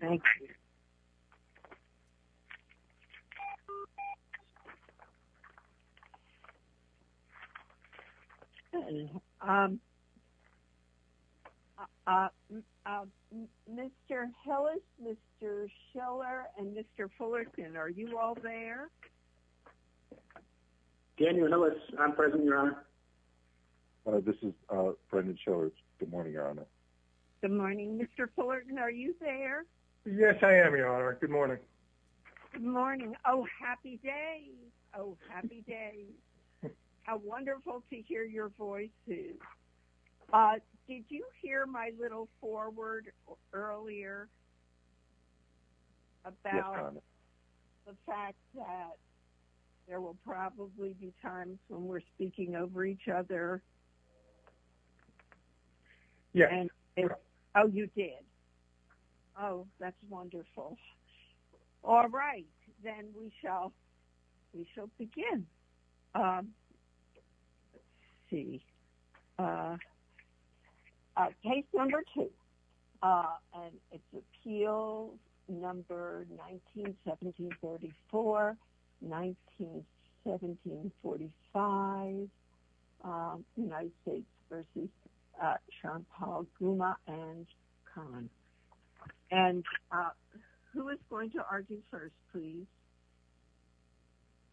Thank you Mr. Hellis, Mr. Scheller, and Mr. Fullerton, are you all there? Daniel Hellis, I'm present, Your Honor. This is Brendan Scheller. Good morning, Your Honor. Good morning, Mr. Fullerton, are you there? Yes, I am, Your Honor. Good morning. Good morning. Oh, happy day. Oh, happy day. How wonderful to hear your voices. Did you hear my little foreword earlier about the fact that there will probably be times when we're speaking over each other? Yes. Oh, you did. Oh, that's wonderful. All right, then we shall begin. Let's see. Case number two, and it's appeal number 1917-44, 1917-45, United States v. Charnpal Ghuma and Khan. And who is going to argue first, please?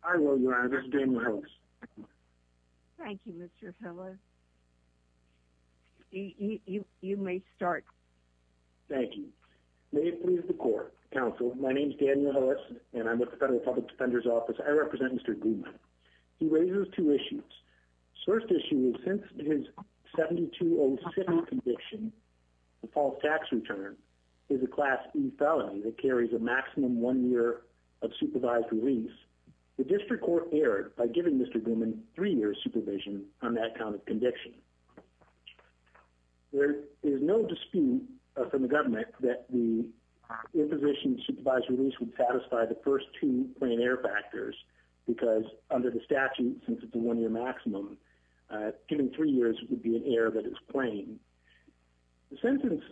I will, Your Honor. This is Daniel Hellis. Thank you, Mr. Hellis. You may start. Thank you. May it please the Court, Counsel, my name is Daniel Hellis, and I'm with the Federal Public Defender's Office. I represent Mr. Ghuma. He raises two issues. The first issue is since his 7207 conviction, the false tax return, is a Class E felony that carries a maximum one year of supervised release, the District Court erred by giving Mr. Ghuma three years' supervision on that kind of conviction. There is no dispute from the government that the imposition of supervised release would satisfy the first two plain error factors because under the statute, since it's a one-year maximum, giving three years would be an error that is plain. The sentence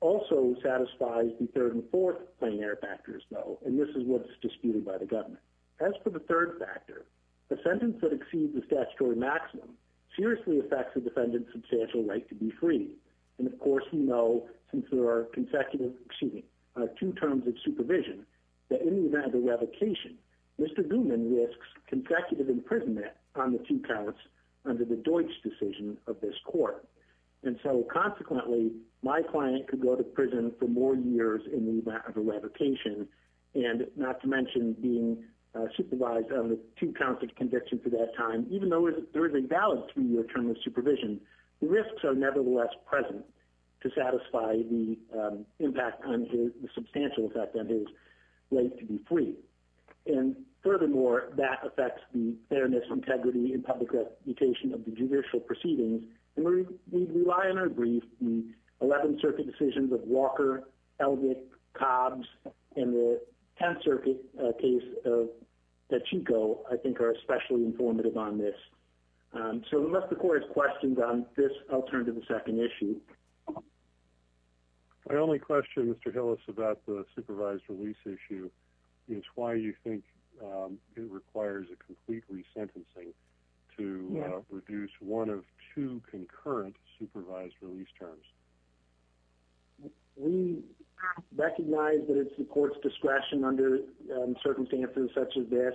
also satisfies the third and fourth plain error factors, though, and this is what's disputed by the government. As for the third factor, the sentence that exceeds the statutory maximum seriously affects a defendant's substantial right to be free. And, of course, you know, since there are consecutive, excuse me, two terms of supervision, that in the event of a revocation, Mr. Ghuma risks consecutive imprisonment on the two counts under the Deutsch decision of this Court. And so, consequently, my client could go to prison for more years in the event of a revocation, and not to mention being supervised on the two counts of conviction for that time, even though there is a valid three-year term of supervision, the risks are nevertheless present to satisfy the impact on his, the substantial effect on his right to be free. And, furthermore, that affects the fairness, integrity, and public reputation of the judicial proceedings. And we rely on our briefs in the 11th Circuit decisions of Walker, Eldred, Cobbs, and the 10th Circuit case that Chico, I think, are especially informative on this. So unless the Court has questions on this, I'll turn to the second issue. My only question, Mr. Hillis, about the supervised release issue is why you think it requires a complete resentencing to reduce one of two concurrent supervised release terms. We recognize that it's the Court's discretion under circumstances such as this,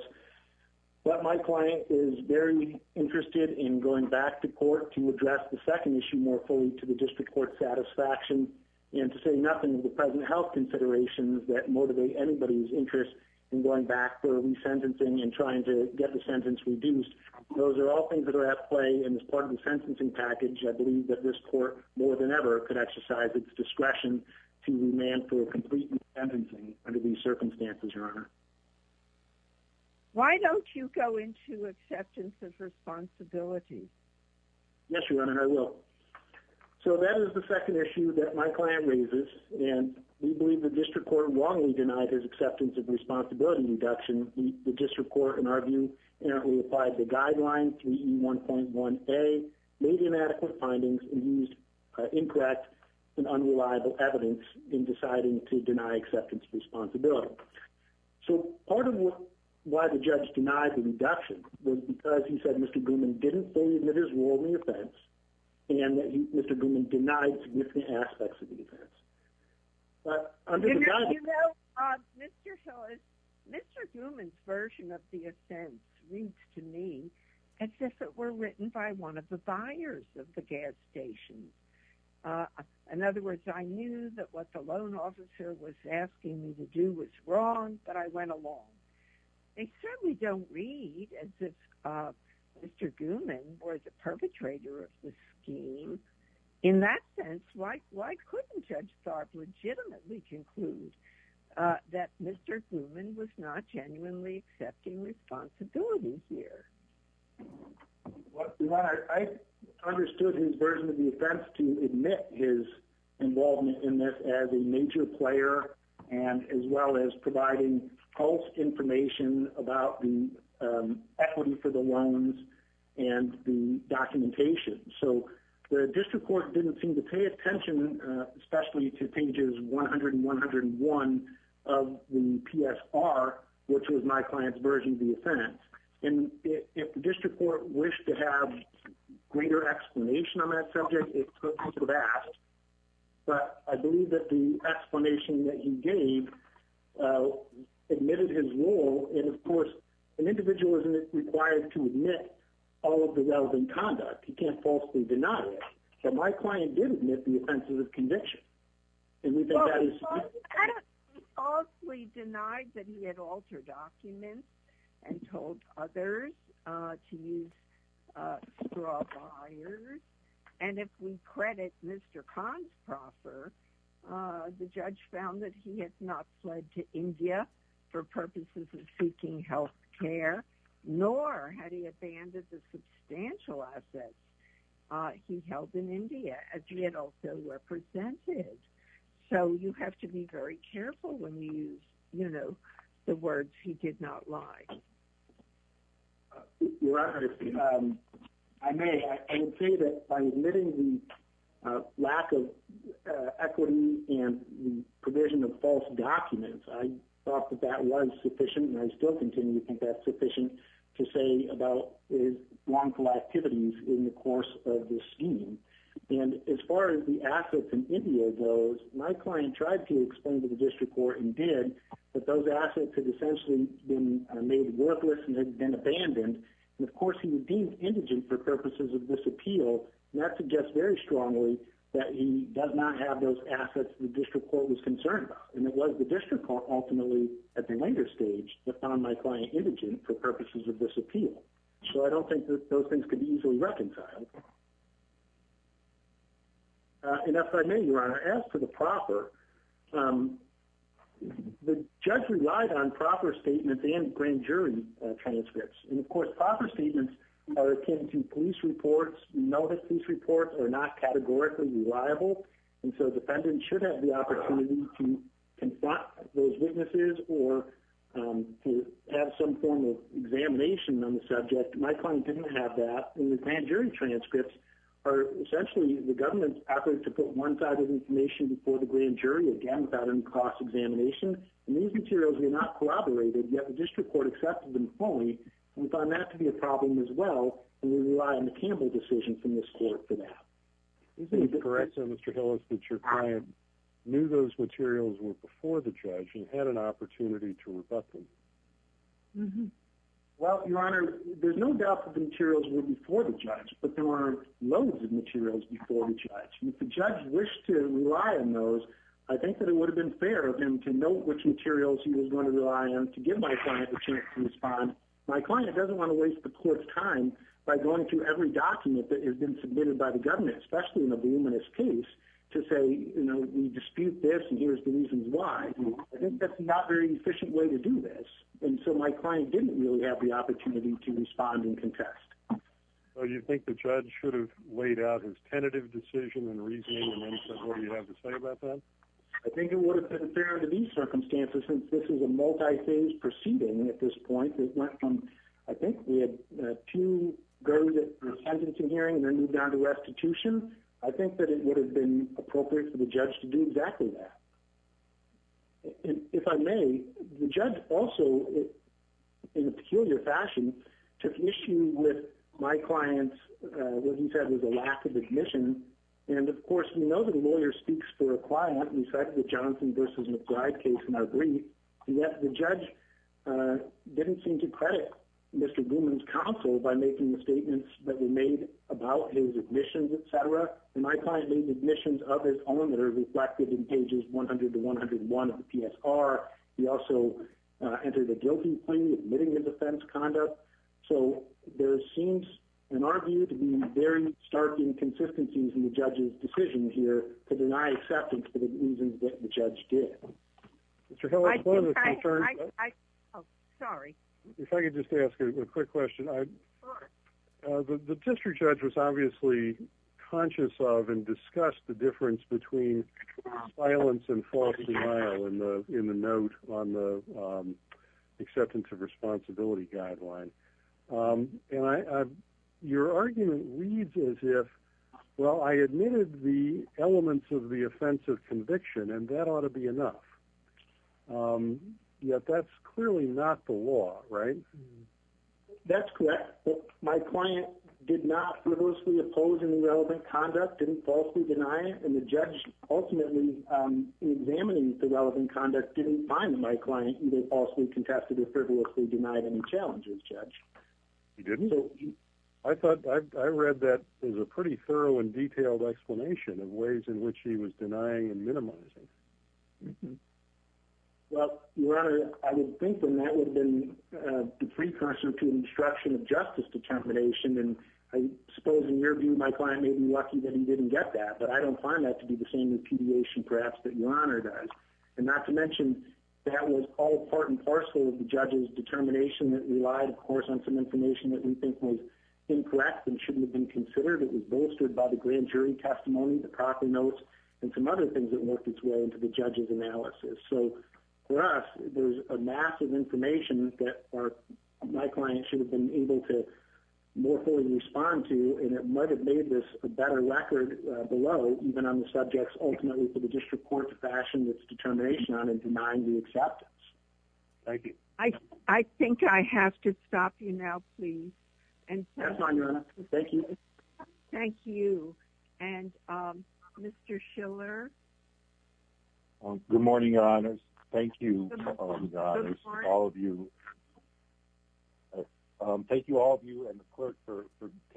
but my client is very interested in going back to court to address the second issue more fully to the district court satisfaction and to say nothing of the present health considerations that motivate anybody's interest in going back for resentencing and trying to get the sentence reduced. Those are all things that are at play in this part of the sentencing package. I believe that this Court, more than ever, could exercise its discretion to demand for a complete resentencing under these circumstances, Your Honor. Why don't you go into acceptance of responsibility? Yes, Your Honor, I will. So that is the second issue that my client raises, and we believe the district court wrongly denied his acceptance of responsibility reduction. The district court, in our view, inherently applied the guideline 3E1.1A, made inadequate findings, and used incorrect and unreliable evidence in deciding to deny acceptance of responsibility. So part of why the judge denied the reduction was because he said Mr. Grumman didn't fully admit his wrongly offense and that Mr. Grumman denied significant aspects of the offense. Mr. Grumman's version of the offense reads to me as if it were written by one of the buyers of the gas station. In other words, I knew that what the loan officer was asking me to do was wrong, but I went along. They certainly don't read as if Mr. Grumman was a perpetrator of the scheme. In that sense, why couldn't Judge Tharpe legitimately conclude that Mr. Grumman was not genuinely accepting responsibility here? I understood his version of the offense to admit his involvement in this as a major player and as well as providing false information about the equity for the loans and the documentation. So the district court didn't seem to pay attention, especially to pages 100 and 101 of the PSR, which was my client's version of the offense. And if the district court wished to have greater explanation on that subject, it could have asked. But I believe that the explanation that he gave admitted his role. And, of course, an individual isn't required to admit all of the relevant conduct. He can't falsely deny it. But my client did admit the offenses of conviction. Well, he falsely denied that he had altered documents and told others to use straw buyers. And if we credit Mr. Consproffer, the judge found that he had not fled to India for purposes of seeking health care, nor had he abandoned the substantial assets he held in India, as he had also represented. So you have to be very careful when you use, you know, the words he did not lie. Your Honor, if I may, I would say that by admitting the lack of equity and provision of false documents, I thought that that was sufficient, and I still continue to think that's sufficient, to say about his wrongful activities in the course of this scheme. And as far as the assets in India goes, my client tried to explain to the district court, and did, that those assets had essentially been made worthless and had been abandoned. And, of course, he was deemed indigent for purposes of this appeal. And that suggests very strongly that he does not have those assets the district court was concerned about. And it was the district court, ultimately, at the later stage, that found my client indigent for purposes of this appeal. So I don't think that those things could be easily reconciled. And if I may, Your Honor, as to the proffer, the judge relied on proffer statements and grand jury transcripts. And, of course, proffer statements are akin to police reports. We know that police reports are not categorically reliable, and so defendants should have the opportunity to confront those witnesses or to have some form of examination on the subject. My client didn't have that. And the grand jury transcripts are essentially the government's effort to put one side of information before the grand jury, again, without any cross-examination. And these materials were not corroborated, yet the district court accepted them fully. We found that to be a problem as well, and we rely on the Campbell decision from this court for that. Is it correct, then, Mr. Hillis, that your client knew those materials were before the judge and had an opportunity to rebut them? Well, Your Honor, there's no doubt that the materials were before the judge, but there weren't loads of materials before the judge. If the judge wished to rely on those, I think that it would have been fair of him to know which materials he was going to rely on to give my client the chance to respond. My client doesn't want to waste the court's time by going through every document that has been submitted by the government, especially in a voluminous case, to say, you know, we dispute this, and here's the reasons why. I think that's not a very efficient way to do this, and so my client didn't really have the opportunity to respond and contest. So you think the judge should have laid out his tentative decision and reasoning and then said, what do you have to say about that? I think it would have been fair under these circumstances, since this is a multi-phase proceeding at this point. It went from, I think we had two verdicts for attendance and hearing, and then moved down to restitution. I think that it would have been appropriate for the judge to do exactly that. If I may, the judge also, in a peculiar fashion, took issue with my client's, what he said was a lack of admission, and of course we know that a lawyer speaks for a client. We cited the Johnson v. McBride case in our brief, and yet the judge didn't seem to credit Mr. Blumen's counsel by making the statements that were made about his admissions, et cetera. My client made the admissions of his own that are reflected in pages 100 to 101 of the PSR. He also entered a guilty plea, admitting his offense, conduct. There seems, in our view, to be very stark inconsistencies in the judge's decision here to deny acceptance for the reasons that the judge did. If I could just ask a quick question. The district judge was obviously conscious of and discussed the difference between silence and false denial in the note on the acceptance of responsibility guideline. Your argument reads as if, well, I admitted the elements of the offense of conviction, and that ought to be enough. Yet that's clearly not the law, right? That's correct. My client did not falsely oppose any relevant conduct, didn't falsely deny it, and the judge ultimately, in examining the relevant conduct, didn't find my client either falsely contested or frivolously denied any challenges, Judge. He didn't? I thought I read that as a pretty thorough and detailed explanation of ways in which he was denying and minimizing. Well, Your Honor, I would think then that would have been the precursor to an obstruction of justice determination, and I suppose, in your view, my client may have been lucky that he didn't get that, but I don't find that to be the same impediation, perhaps, that Your Honor does. And not to mention, that was all part and parcel of the judge's determination that relied, of course, on some information that we think was incorrect and shouldn't have been considered. It was bolstered by the grand jury testimony, the proper notes, and some other things that worked its way into the judge's analysis. So, for us, there's a massive information that my client should have been able to more fully respond to, and it might have made this a better record below, even on the subjects ultimately for the district court to fashion its determination on and denying the acceptance. Thank you. I think I have to stop you now, please. That's fine, Your Honor. Thank you. Thank you. And Mr. Schiller? Good morning, Your Honors. Thank you, Your Honors, all of you. Thank you all of you and the clerk for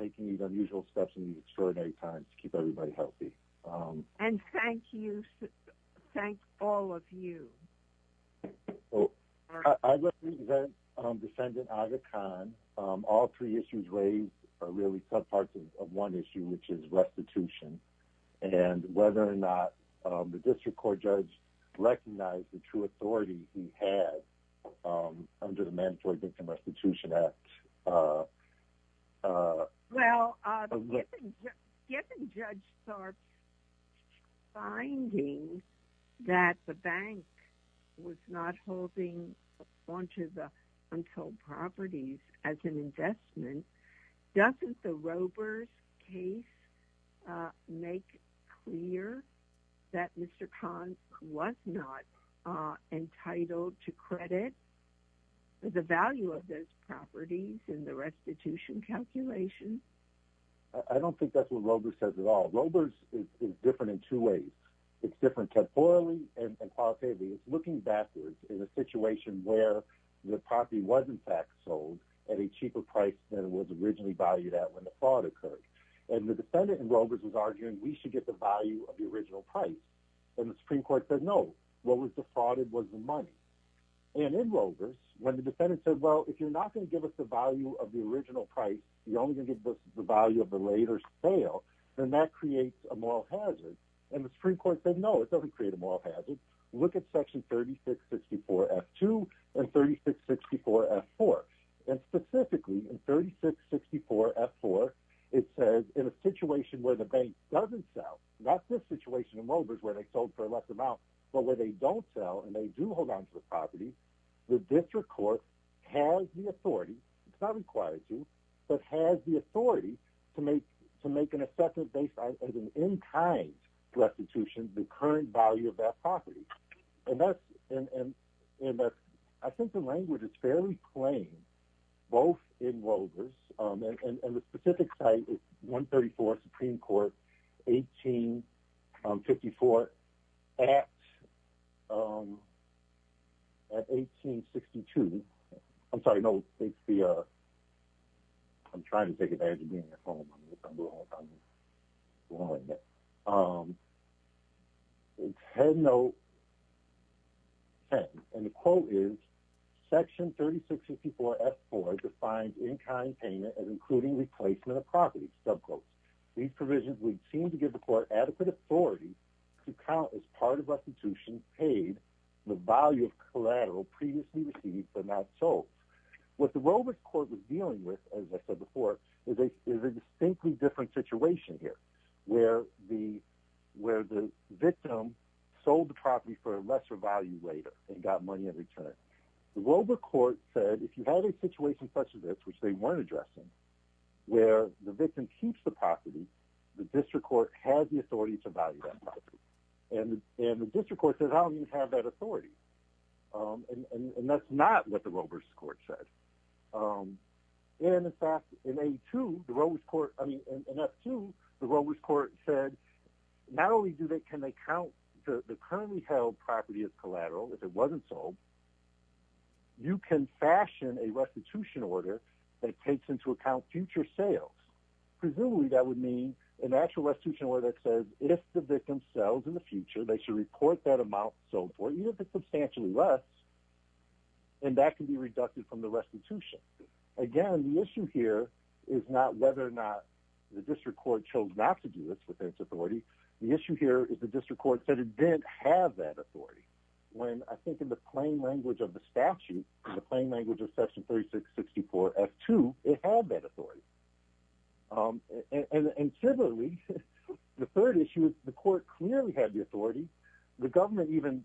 taking these unusual steps in these extraordinary times to keep everybody healthy. And thank you. Thank all of you. I represent Defendant Aga Khan. All three issues raised are really subparts of one issue, which is restitution, and whether or not the district court judge recognized the true authority he had under the Mandatory Victim Restitution Act. Well, given Judge Sarp's finding that the bank was not holding onto the unsold properties as an investment, doesn't the Robers case make clear that Mr. Khan was not entitled to credit the value of those properties in the restitution calculation? I don't think that's what Robers says at all. Robers is different in two ways. It's different temporally and qualitatively. It's looking backwards in a situation where the property was, in fact, sold at a cheaper price than it was originally valued at when the fraud occurred. And the defendant in Robers was arguing we should get the value of the original price. And the Supreme Court said no. What was defrauded was the money. And in Robers, when the defendant said, well, if you're not going to give us the value of the original price, you're only going to give us the value of the later sale, then that creates a moral hazard. And the Supreme Court said no, it doesn't create a moral hazard. Look at Section 3664F2 and 3664F4. And specifically in 3664F4, it says in a situation where the bank doesn't sell, not this situation in Robers where they sold for a lesser amount, but where they don't sell and they do hold onto the property, the district court has the authority, it's not required to, but has the authority to make an assessment based on an in-kind restitution the current value of that property. And the specific site is 134 Supreme Court, 1854 at 1862. I'm sorry, no. I'm trying to take advantage of being on the phone. Headnote 10. And the quote is, Section 3664F4 defines in-kind payment as including replacement of property, subquote. These provisions would seem to give the court adequate authority to count as part of restitution paid the value of collateral previously received but not sold. What the Robers court was dealing with, as I said before, is a distinctly different situation here where the victim sold the property for a lesser value later and got money in return. The Rober court said if you have a situation such as this, which they weren't addressing, where the victim keeps the property, the district court has the authority to value that property. And the district court says I don't even have that authority. And that's not what the Robers court said. And, in fact, in A2, the Robers court, I mean, in F2, the Robers court said not only can they count the currently held property as collateral if it wasn't sold, you can fashion a restitution order that takes into account future sales. Presumably that would mean an actual restitution order that says if the victim sells in the future, they should report that amount sold for even if it's substantially less, and that can be reducted from the restitution. Again, the issue here is not whether or not the district court chose not to do this with its authority. The issue here is the district court said it didn't have that authority. When I think in the plain language of the statute, the plain language of Section 3664F2, it had that authority. The government even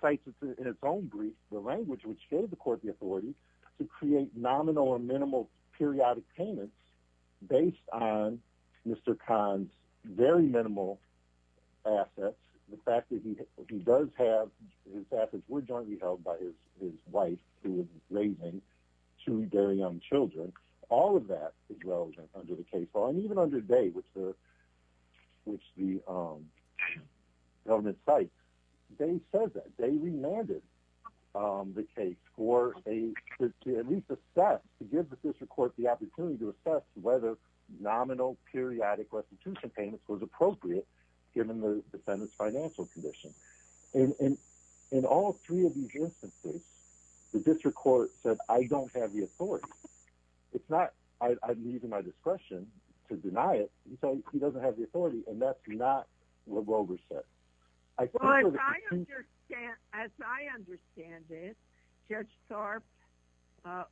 cites in its own brief the language which gave the court the authority to create nominal or minimal periodic payments based on Mr. Kahn's very minimal assets. The fact that he does have his assets were jointly held by his wife who was raising two very young children. All of that is relevant under the case law, and even under day, which the government cites. They said that. They remanded the case to at least assess, to give the district court the opportunity to assess whether nominal periodic restitution payments was appropriate given the defendant's financial condition. In all three of these instances, the district court said, I don't have the authority. I'm using my discretion to deny it. He doesn't have the authority, and that's not what Rovers said. As I understand it, Judge Tharp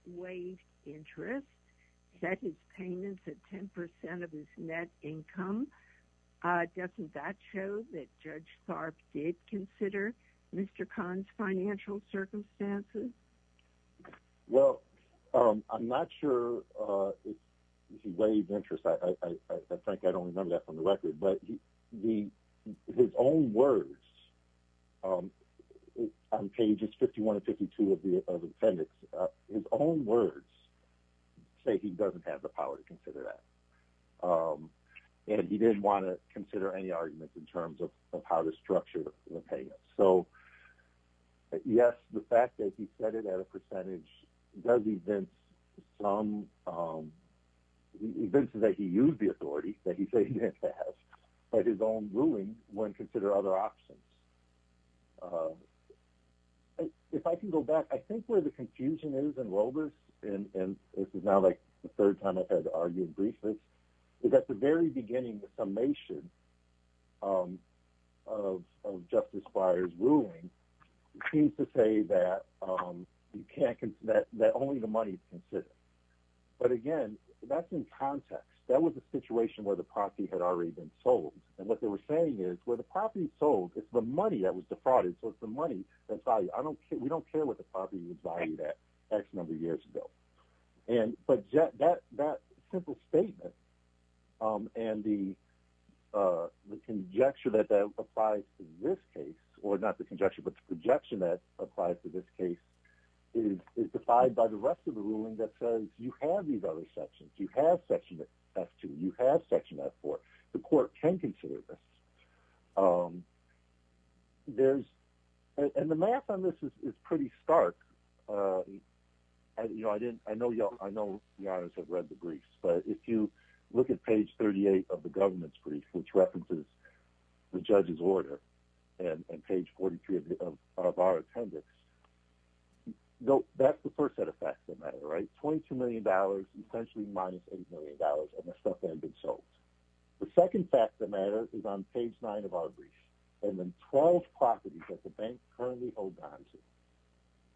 waived interest, set his payments at 10% of his net income. Doesn't that show that Judge Tharp did consider Mr. Kahn's financial circumstances? Well, I'm not sure if he waived interest. I think I don't remember that from the record, but his own words on pages 51 and 52 of the appendix, his own words say he doesn't have the power to consider that, and he didn't want to consider any arguments in terms of how to structure the payments. So, yes, the fact that he set it at a percentage does evince some, evince that he used the authority that he said he didn't have, but his own ruling wouldn't consider other options. If I can go back, I think where the confusion is in Rovers, and this is now like the third time I've had to argue in brief, is at the very beginning the summation of Justice Breyer's ruling seems to say that only the money is considered. But, again, that's in context. That was a situation where the property had already been sold, and what they were saying is where the property is sold, it's the money that was defrauded, so it's the money that's valued. We don't care what the property was valued at X number of years ago. But that simple statement and the conjecture that applies to this case, or not the conjecture but the projection that applies to this case, is defied by the rest of the ruling that says you have these other sections. You have Section F2. You have Section F4. The court can consider this. And the math on this is pretty stark. I know the audience have read the briefs, but if you look at page 38 of the government's brief, which references the judge's order, and page 43 of our attendance, that's the first set of facts that matter, right? $22 million, essentially minus $8 million of the stuff that had been sold. The second fact that matters is on page 9 of our brief, and then 12 properties that the bank currently holds onto.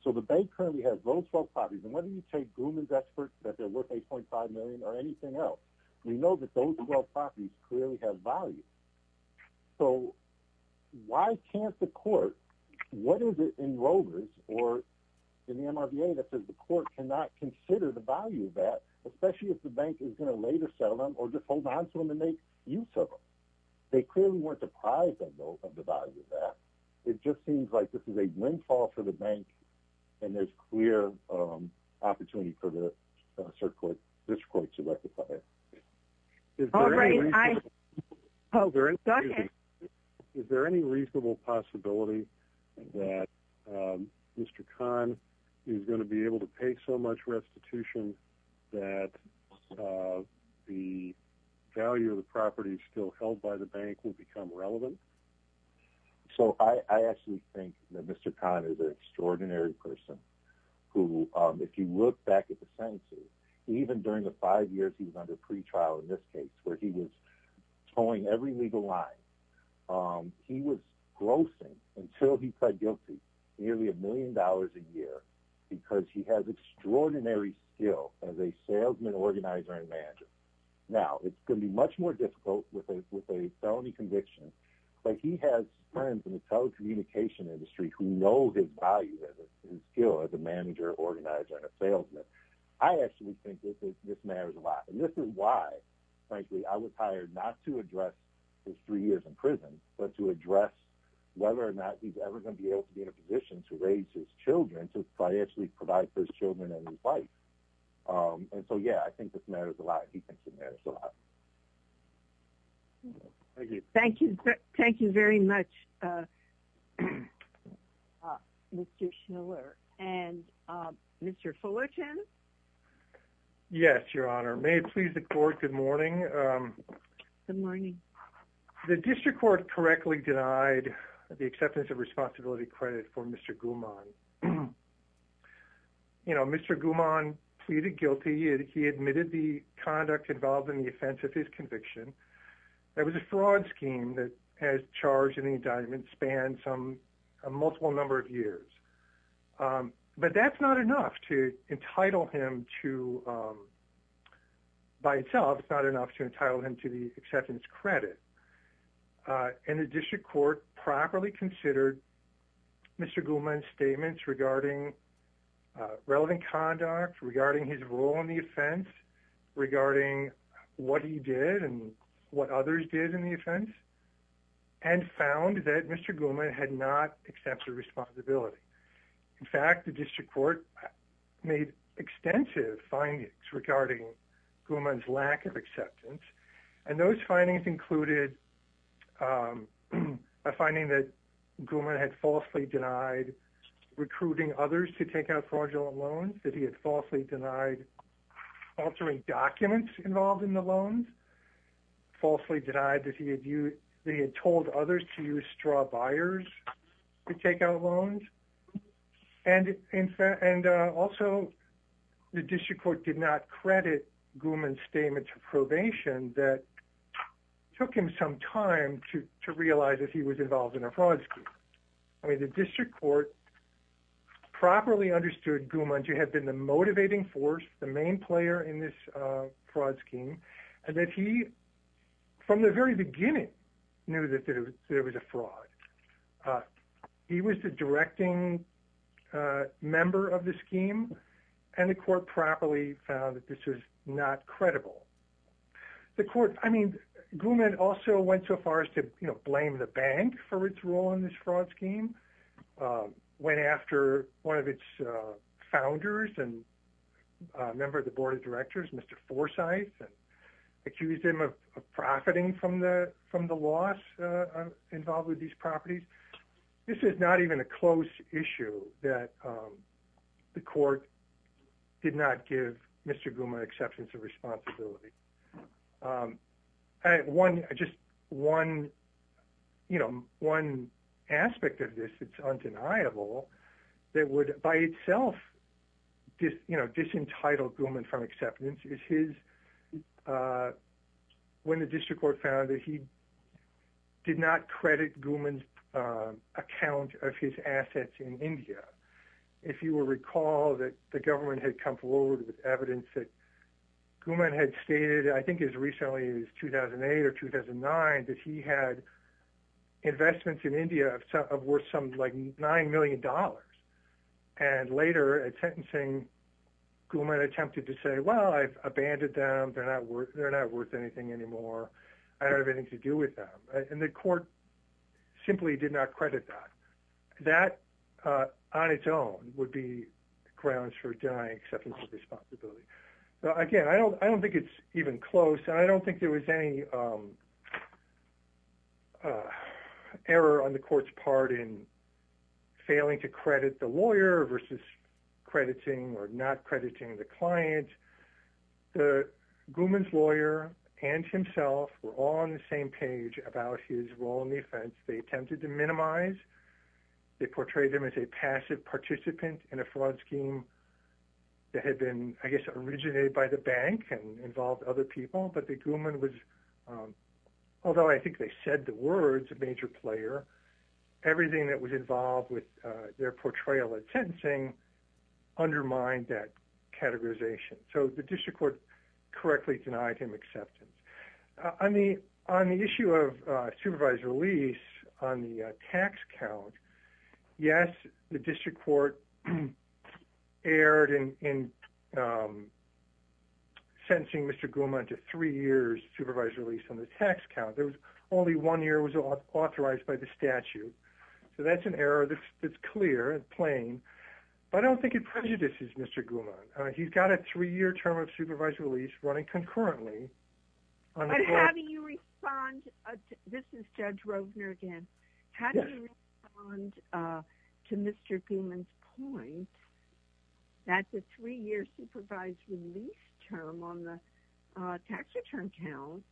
So the bank currently has those 12 properties, and whether you take Grumman's experts that they're worth $8.5 million or anything else, we know that those 12 properties clearly have value. So why can't the court, what is it in Rovers or in the MRBA that says the court cannot consider the value of that, especially if the bank is going to later sell them or just hold on to them and make use of them? They clearly weren't deprived, though, of the value of that. It just seems like this is a windfall for the bank, and there's clear opportunity for the district court to rectify it. Is there any reasonable possibility that Mr. Kahn is going to be able to pay so much restitution that the value of the properties still held by the bank will become relevant? So I actually think that Mr. Kahn is an extraordinary person who, if you look back at the sentences, even during the five years he was under pretrial in this case where he was towing every legal line, he was grossing until he pled guilty nearly a million dollars a year because he has extraordinary skill as a salesman, organizer, and manager. Now, it's going to be much more difficult with a felony conviction, but he has friends in the telecommunication industry who know his value, his skill as a manager, organizer, and a salesman. I actually think this matters a lot, and this is why, frankly, I was hired not to address his three years in prison but to address whether or not he's ever going to be able to be in a position to raise his children, to financially provide for his children and his wife. And so, yeah, I think this matters a lot. He thinks it matters a lot. Thank you. Thank you very much, Mr. Schiller. And Mr. Fullerton? Yes, Your Honor. May it please the Court, good morning. Good morning. The district court correctly denied the acceptance of responsibility credit for Mr. Gumon. You know, Mr. Gumon pleaded guilty. He admitted the conduct involved in the offense of his conviction. That was a fraud scheme that has charged in the indictment, spanned a multiple number of years. But that's not enough to entitle him to, by itself, it's not enough to entitle him to the acceptance credit. And the district court properly considered Mr. Gumon's statements regarding relevant conduct, regarding his role in the offense, regarding what he did and what others did in the offense, and found that Mr. Gumon had not accepted responsibility. In fact, the district court made extensive findings regarding Gumon's lack of acceptance. And those findings included a finding that Gumon had falsely denied recruiting others to take out fraudulent loans, that he had falsely denied altering documents involved in the loans, falsely denied that he had told others to use straw buyers to take out loans, and also the district court did not credit Gumon's statement to probation that took him some time to realize that he was involved in a fraud scheme. I mean, the district court properly understood Gumon to have been the motivating force, the main player in this fraud scheme, and that he, from the very beginning, knew that there was a fraud. He was the directing member of the scheme, and the court properly found that this was not credible. The court, I mean, Gumon also went so far as to, you know, blame the bank for its role in this fraud scheme, went after one of its founders and a member of the board of directors, Mr. Forsyth, and accused him of profiting from the loss involved with these properties. This is not even a close issue that the court did not give Mr. Gumon acceptance of responsibility. One, just one, you know, one aspect of this, it's undeniable that would by itself, you know, disentitle Gumon from acceptance is his, when the district court found that he did not credit Gumon's account of his assets in India. If you will recall that the government had come forward with evidence that Gumon had stated, I think as recently as 2008 or 2009, that he had investments in India of worth some like $9 million. And later at sentencing, Gumon attempted to say, well, I've abandoned them. They're not worth, they're not worth anything anymore. I don't have anything to do with them. And the court simply did not credit that. That on its own would be grounds for denying acceptance of responsibility. So again, I don't, I don't think it's even close. And I don't think there was any error on the court's part in failing to credit the lawyer versus crediting or not crediting the client. The Gumon's lawyer and himself were all on the same page about his role in the offense. They attempted to minimize, they portrayed him as a passive participant in a fraud scheme that had been, I guess, originated by the bank and involved other people, but the Gumon was, although I think they said the words of major player, everything that was involved with their portrayal at sentencing undermined that categorization. So the district court correctly denied him acceptance on the, on the issue of a supervised release on the tax count. Yes. The district court erred in, in sentencing Mr. Gumon to three years supervised release on the tax count. There was only one year was authorized by the statute. So that's an error that's clear and plain, but I don't think it prejudices Mr. Gumon. He's got a three year term of supervised release running concurrently. How do you respond? This is Judge Rovner again. How do you respond to Mr. Gumon's point that the three year supervised release term on the tax return count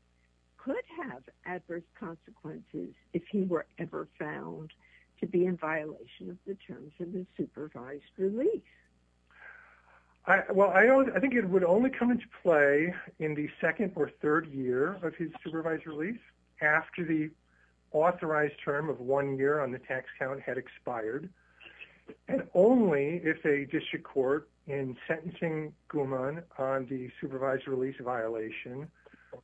could have adverse consequences if he were ever found to be in the district court? Well, I don't, I think it would only come into play in the second or third year of his supervised release after the authorized term of one year on the tax count had expired. And only if a district court in sentencing Gumon on the supervised release violation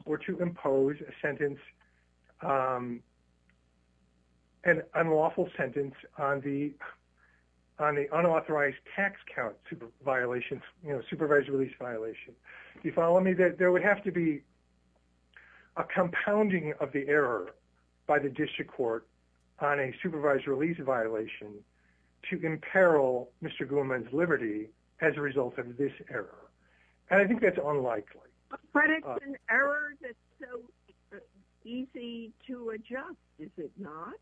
or to impose a sentence, an unlawful sentence on the, on the unauthorized tax count super violations, you know, supervised release violation. You follow me that there would have to be a compounding of the error by the district court on a supervised release violation to imperil Mr. Gumon's liberty as a result of this error. And I think that's unlikely. An error that's so easy to adjust. Is it not?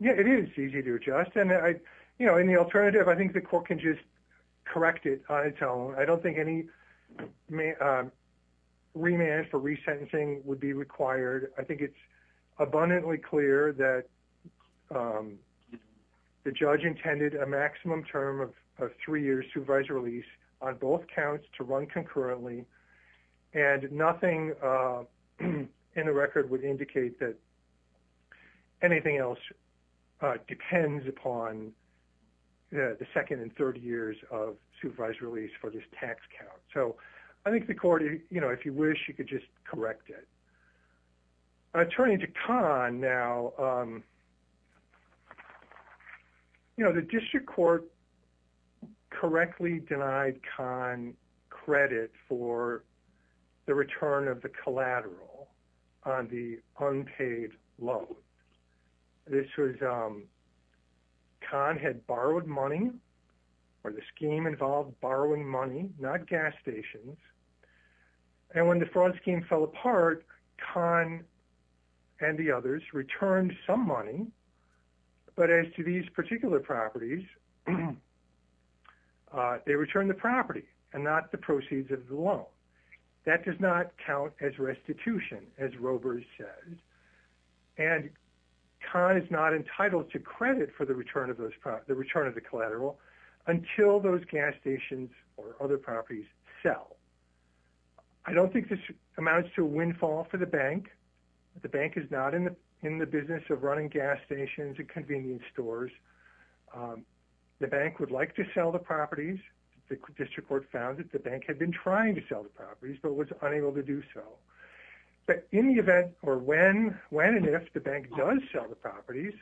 Yeah, it is easy to adjust. And I, you know, in the alternative, I think the court can just correct it on its own. I don't think any remand for resentencing would be required. I think it's abundantly clear that the judge intended a maximum term of three years supervised release on both counts to run concurrently and nothing in the record would indicate that anything else depends upon the second and third years of supervised release for this tax count. So I think the court, you know, if you wish, you could just correct it. The district court correctly denied con credit for the return of the collateral on the unpaid loan. This was con had borrowed money or the scheme involved borrowing money, not gas stations. And when the fraud scheme fell apart, con and the others returned some money. But as to these particular properties, they returned the property and not the proceeds of the loan. That does not count as restitution as rovers says. And con is not entitled to credit for the return of those, the return of the collateral until those gas stations or other properties sell. I don't think this amounts to windfall for the bank. The bank is not in the business of running gas stations and convenience stores. The bank would like to sell the properties. The district court found that the bank had been trying to sell the properties but was unable to do so. But in the event or when and if the bank does sell the properties,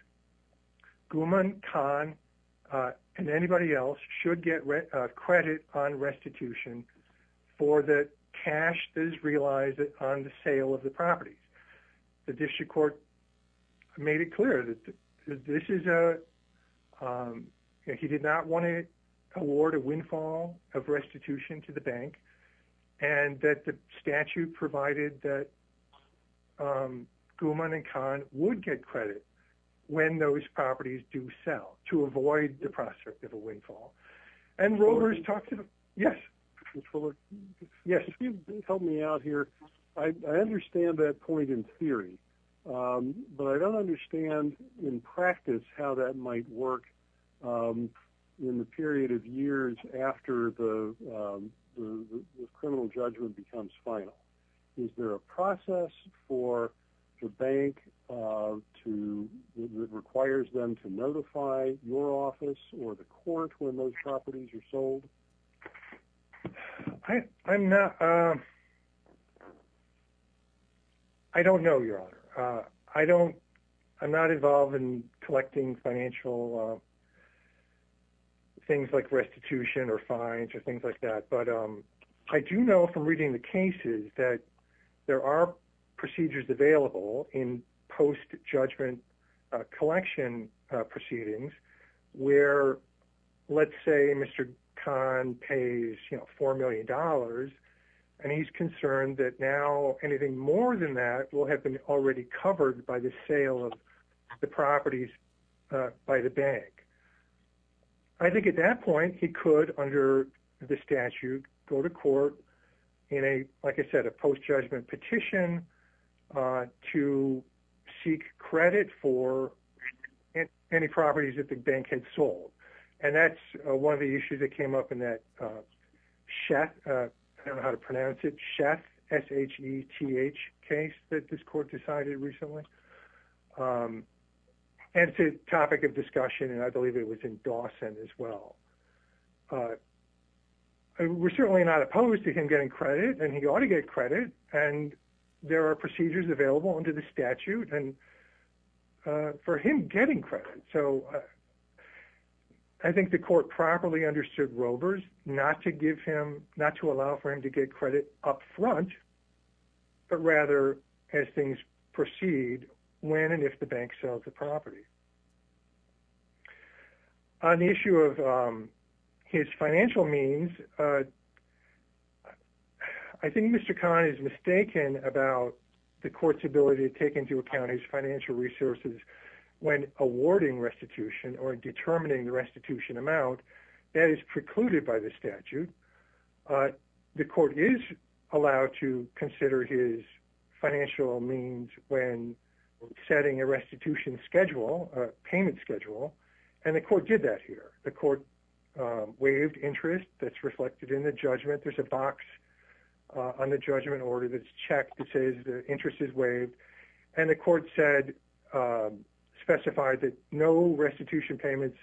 guman con and anybody else should get credit on restitution for the cash that is realized on the sale of the properties. The district court made it clear that this is a, he did not want to award a windfall of restitution to the bank and that the statute provided that guman and con would get credit when those properties do sell to avoid the prospect of a windfall and rovers talk to them. Yes. Yes. Help me out here. I understand that point in theory, but I don't understand in practice how that might work in the period of years after the criminal judgment becomes final. Is there a process for the bank to, it requires them to notify your office or the court when those properties are I'm not, I don't know your honor. I don't, I'm not involved in collecting financial things like restitution or fines or things like that. But I do know from reading the cases that there are procedures available in post judgment collection proceedings where let's say Mr. Conn, Mr. Conn pays, you know, $4 million and he's concerned that now anything more than that will have been already covered by the sale of the properties by the bank. I think at that point he could under the statute go to court in a, like I said, a post judgment petition to seek credit for any properties that the bank had sold. And that's one of the issues that came up in that chef, I don't know how to pronounce it. Chef S H E T H case that this court decided recently. And it's a topic of discussion and I believe it was in Dawson as well. We're certainly not opposed to him getting credit and he ought to get credit. And there are procedures available under the statute and for him getting credit. So I think the court properly understood rovers, not to give him, not to allow for him to get credit upfront, but rather as things proceed when and if the bank sells the property on the issue of his financial means. I think Mr. Conn is mistaken about the court's ability to take into account his financial means when he's awarding restitution or determining the restitution amount that is precluded by the statute. The court is allowed to consider his financial means when setting a restitution schedule, payment schedule. And the court did that here. The court waived interest that's reflected in the judgment. There's a box on the judgment order. That's checked. It says the interest is waived. And the court said, specified that no restitution payments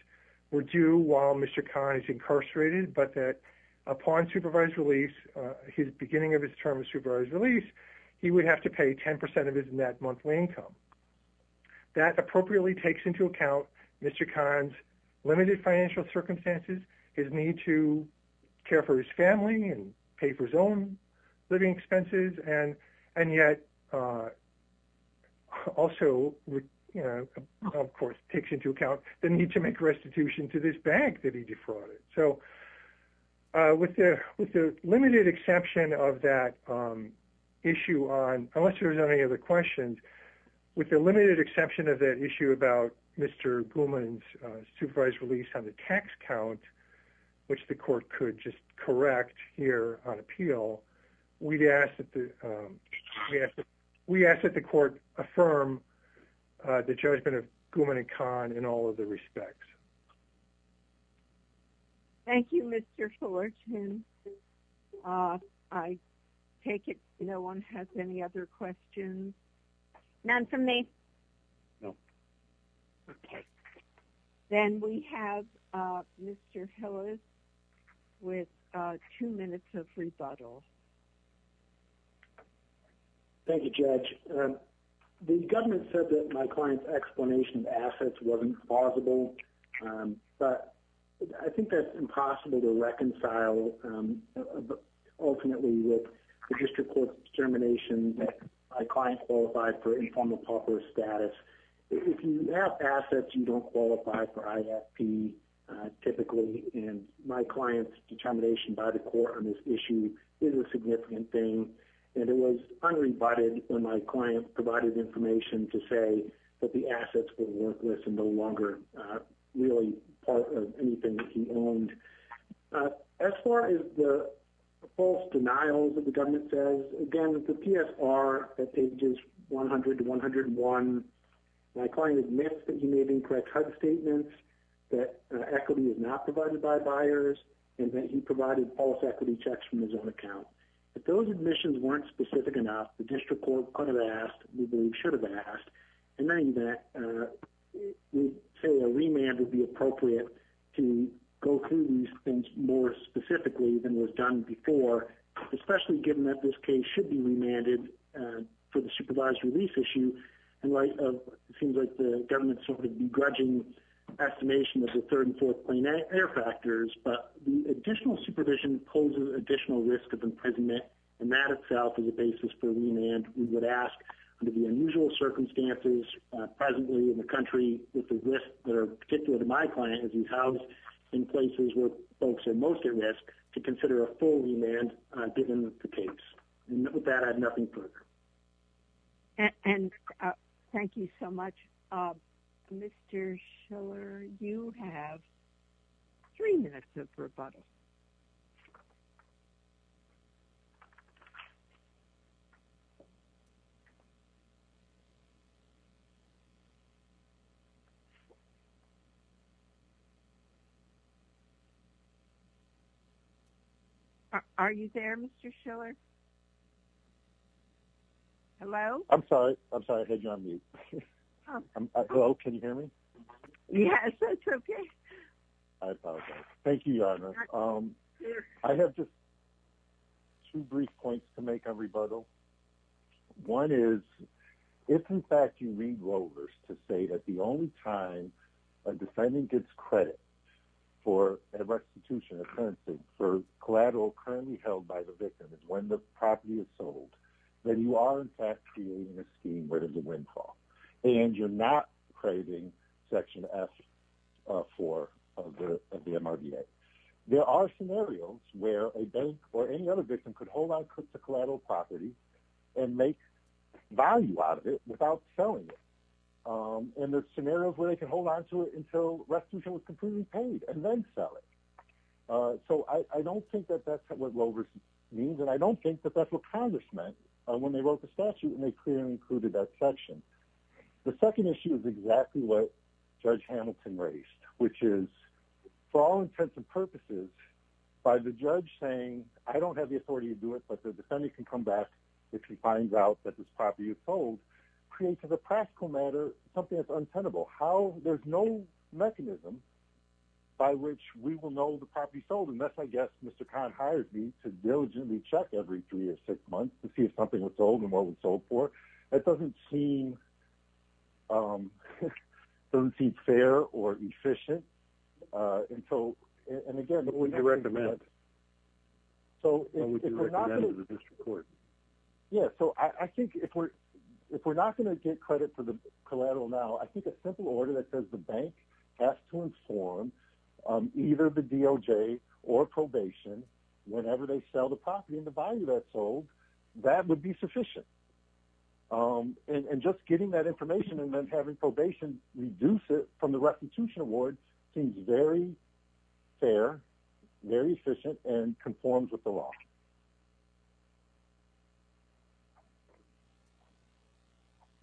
were due while Mr. Conn is incarcerated, but that upon supervised release, his beginning of his term of supervised release, he would have to pay 10% of his net monthly income that appropriately takes into account. Mr. Conn's limited financial circumstances, his need to care for his family and pay for his own living expenses. And, and yet, Mr. Conn also of course takes into account the need to make restitution to this bank that he defrauded. So with the, with the limited exception of that issue on, unless there's any other questions with the limited exception of that issue about Mr. Gorman's supervised release on the tax count, which the court could just correct here on appeal, we'd ask that the, we ask that the court affirm the judgment of Gorman and Conn in all of the respects. Thank you, Mr. Fullerton. I take it. No one has any other questions. None from me. Then we have Mr. Hillis with two minutes of rebuttal. Thank you, judge. The government said that my client's explanation of assets wasn't plausible. But I think that's impossible to reconcile. Ultimately with the district court's determination that my client qualified for informal proper status. If you have assets, you don't qualify for ISP typically. And my client's determination by the court on this issue is a significant thing. And it was unrebutted when my client provided information to say that the assets were worthless and no longer really part of anything that he owned. As far as the false denials that the government says, again, the PSR at pages 100 to 101, my client admits that he made incorrect HUD statements, that equity is not provided by buyers, and that he provided false equity checks from his own account. If those admissions weren't specific enough, the district court could have asked, we believe should have asked. In any event, we say a remand would be appropriate to go through these things more specifically than was done before, especially given that this case should be remanded for the supervised release issue. And it seems like the government's sort of begrudging estimation of the third and fourth plane air factors, but the additional supervision poses additional risk of imprisonment. And that itself is a basis for remand. We would ask under the unusual circumstances presently in the country with the risks that are particular to my client, as he's housed in places where folks are most at risk to consider a full remand, given the case. And with that, I have nothing further. And thank you so much, Mr. Schiller, you have three minutes of rebuttal. Are you there? Mr. Schiller. Hello. I'm sorry. I'm sorry. I had you on mute. Can you hear me? Yes. That's okay. I apologize. Thank you, Your Honor. I have just two brief points to make a rebuttal. One is if in fact you read rovers to say that the only time a defendant gets credit for a restitution of currency for collateral currently held by the victim is when the property is sold. Then you are in fact creating a scheme where there's a windfall and you're not craving section F four of the MRDA. There are scenarios where a bank or any other victim could hold on to the collateral property and make value out of it without selling it. And there's scenarios where they can hold on to it until restitution was completely paid and then sell it. So I don't think that that's what rovers means. And I don't think that that's what Congress meant when they wrote the statute and they clearly included that section. The second issue is exactly what judge Hamilton raised, which is for all intents and purposes by the judge saying, I don't have the authority to do it, but the defendant can come back if he finds out that this property is sold created a practical matter, something that's untenable, how there's no mechanism by which we will know the property sold. And that's, I guess, Mr. Conn hired me to diligently check every three or six months to see if something was sold and what was sold for. That doesn't seem fair or efficient. And so, and again, yeah. So I think if we're, if we're not going to get credit for the collateral, now, I think a simple order that says the bank has to inform either the DOJ or probation, whenever they sell the property and the value that's sold, that would be sufficient. And just getting that information and then having probation reduce it from the restitution award seems very fair, very efficient and conforms with the law.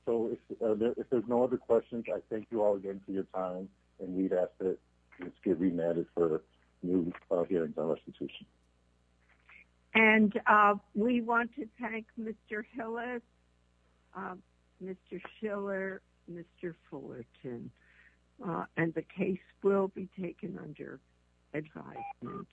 So if there's no other questions, I thank you all again for your time. And we'd ask that let's get remanded for new hearings on restitution. And we want to thank Mr. Hillis, Mr. Schiller, Mr. Fullerton, and the case will be taken under advisement.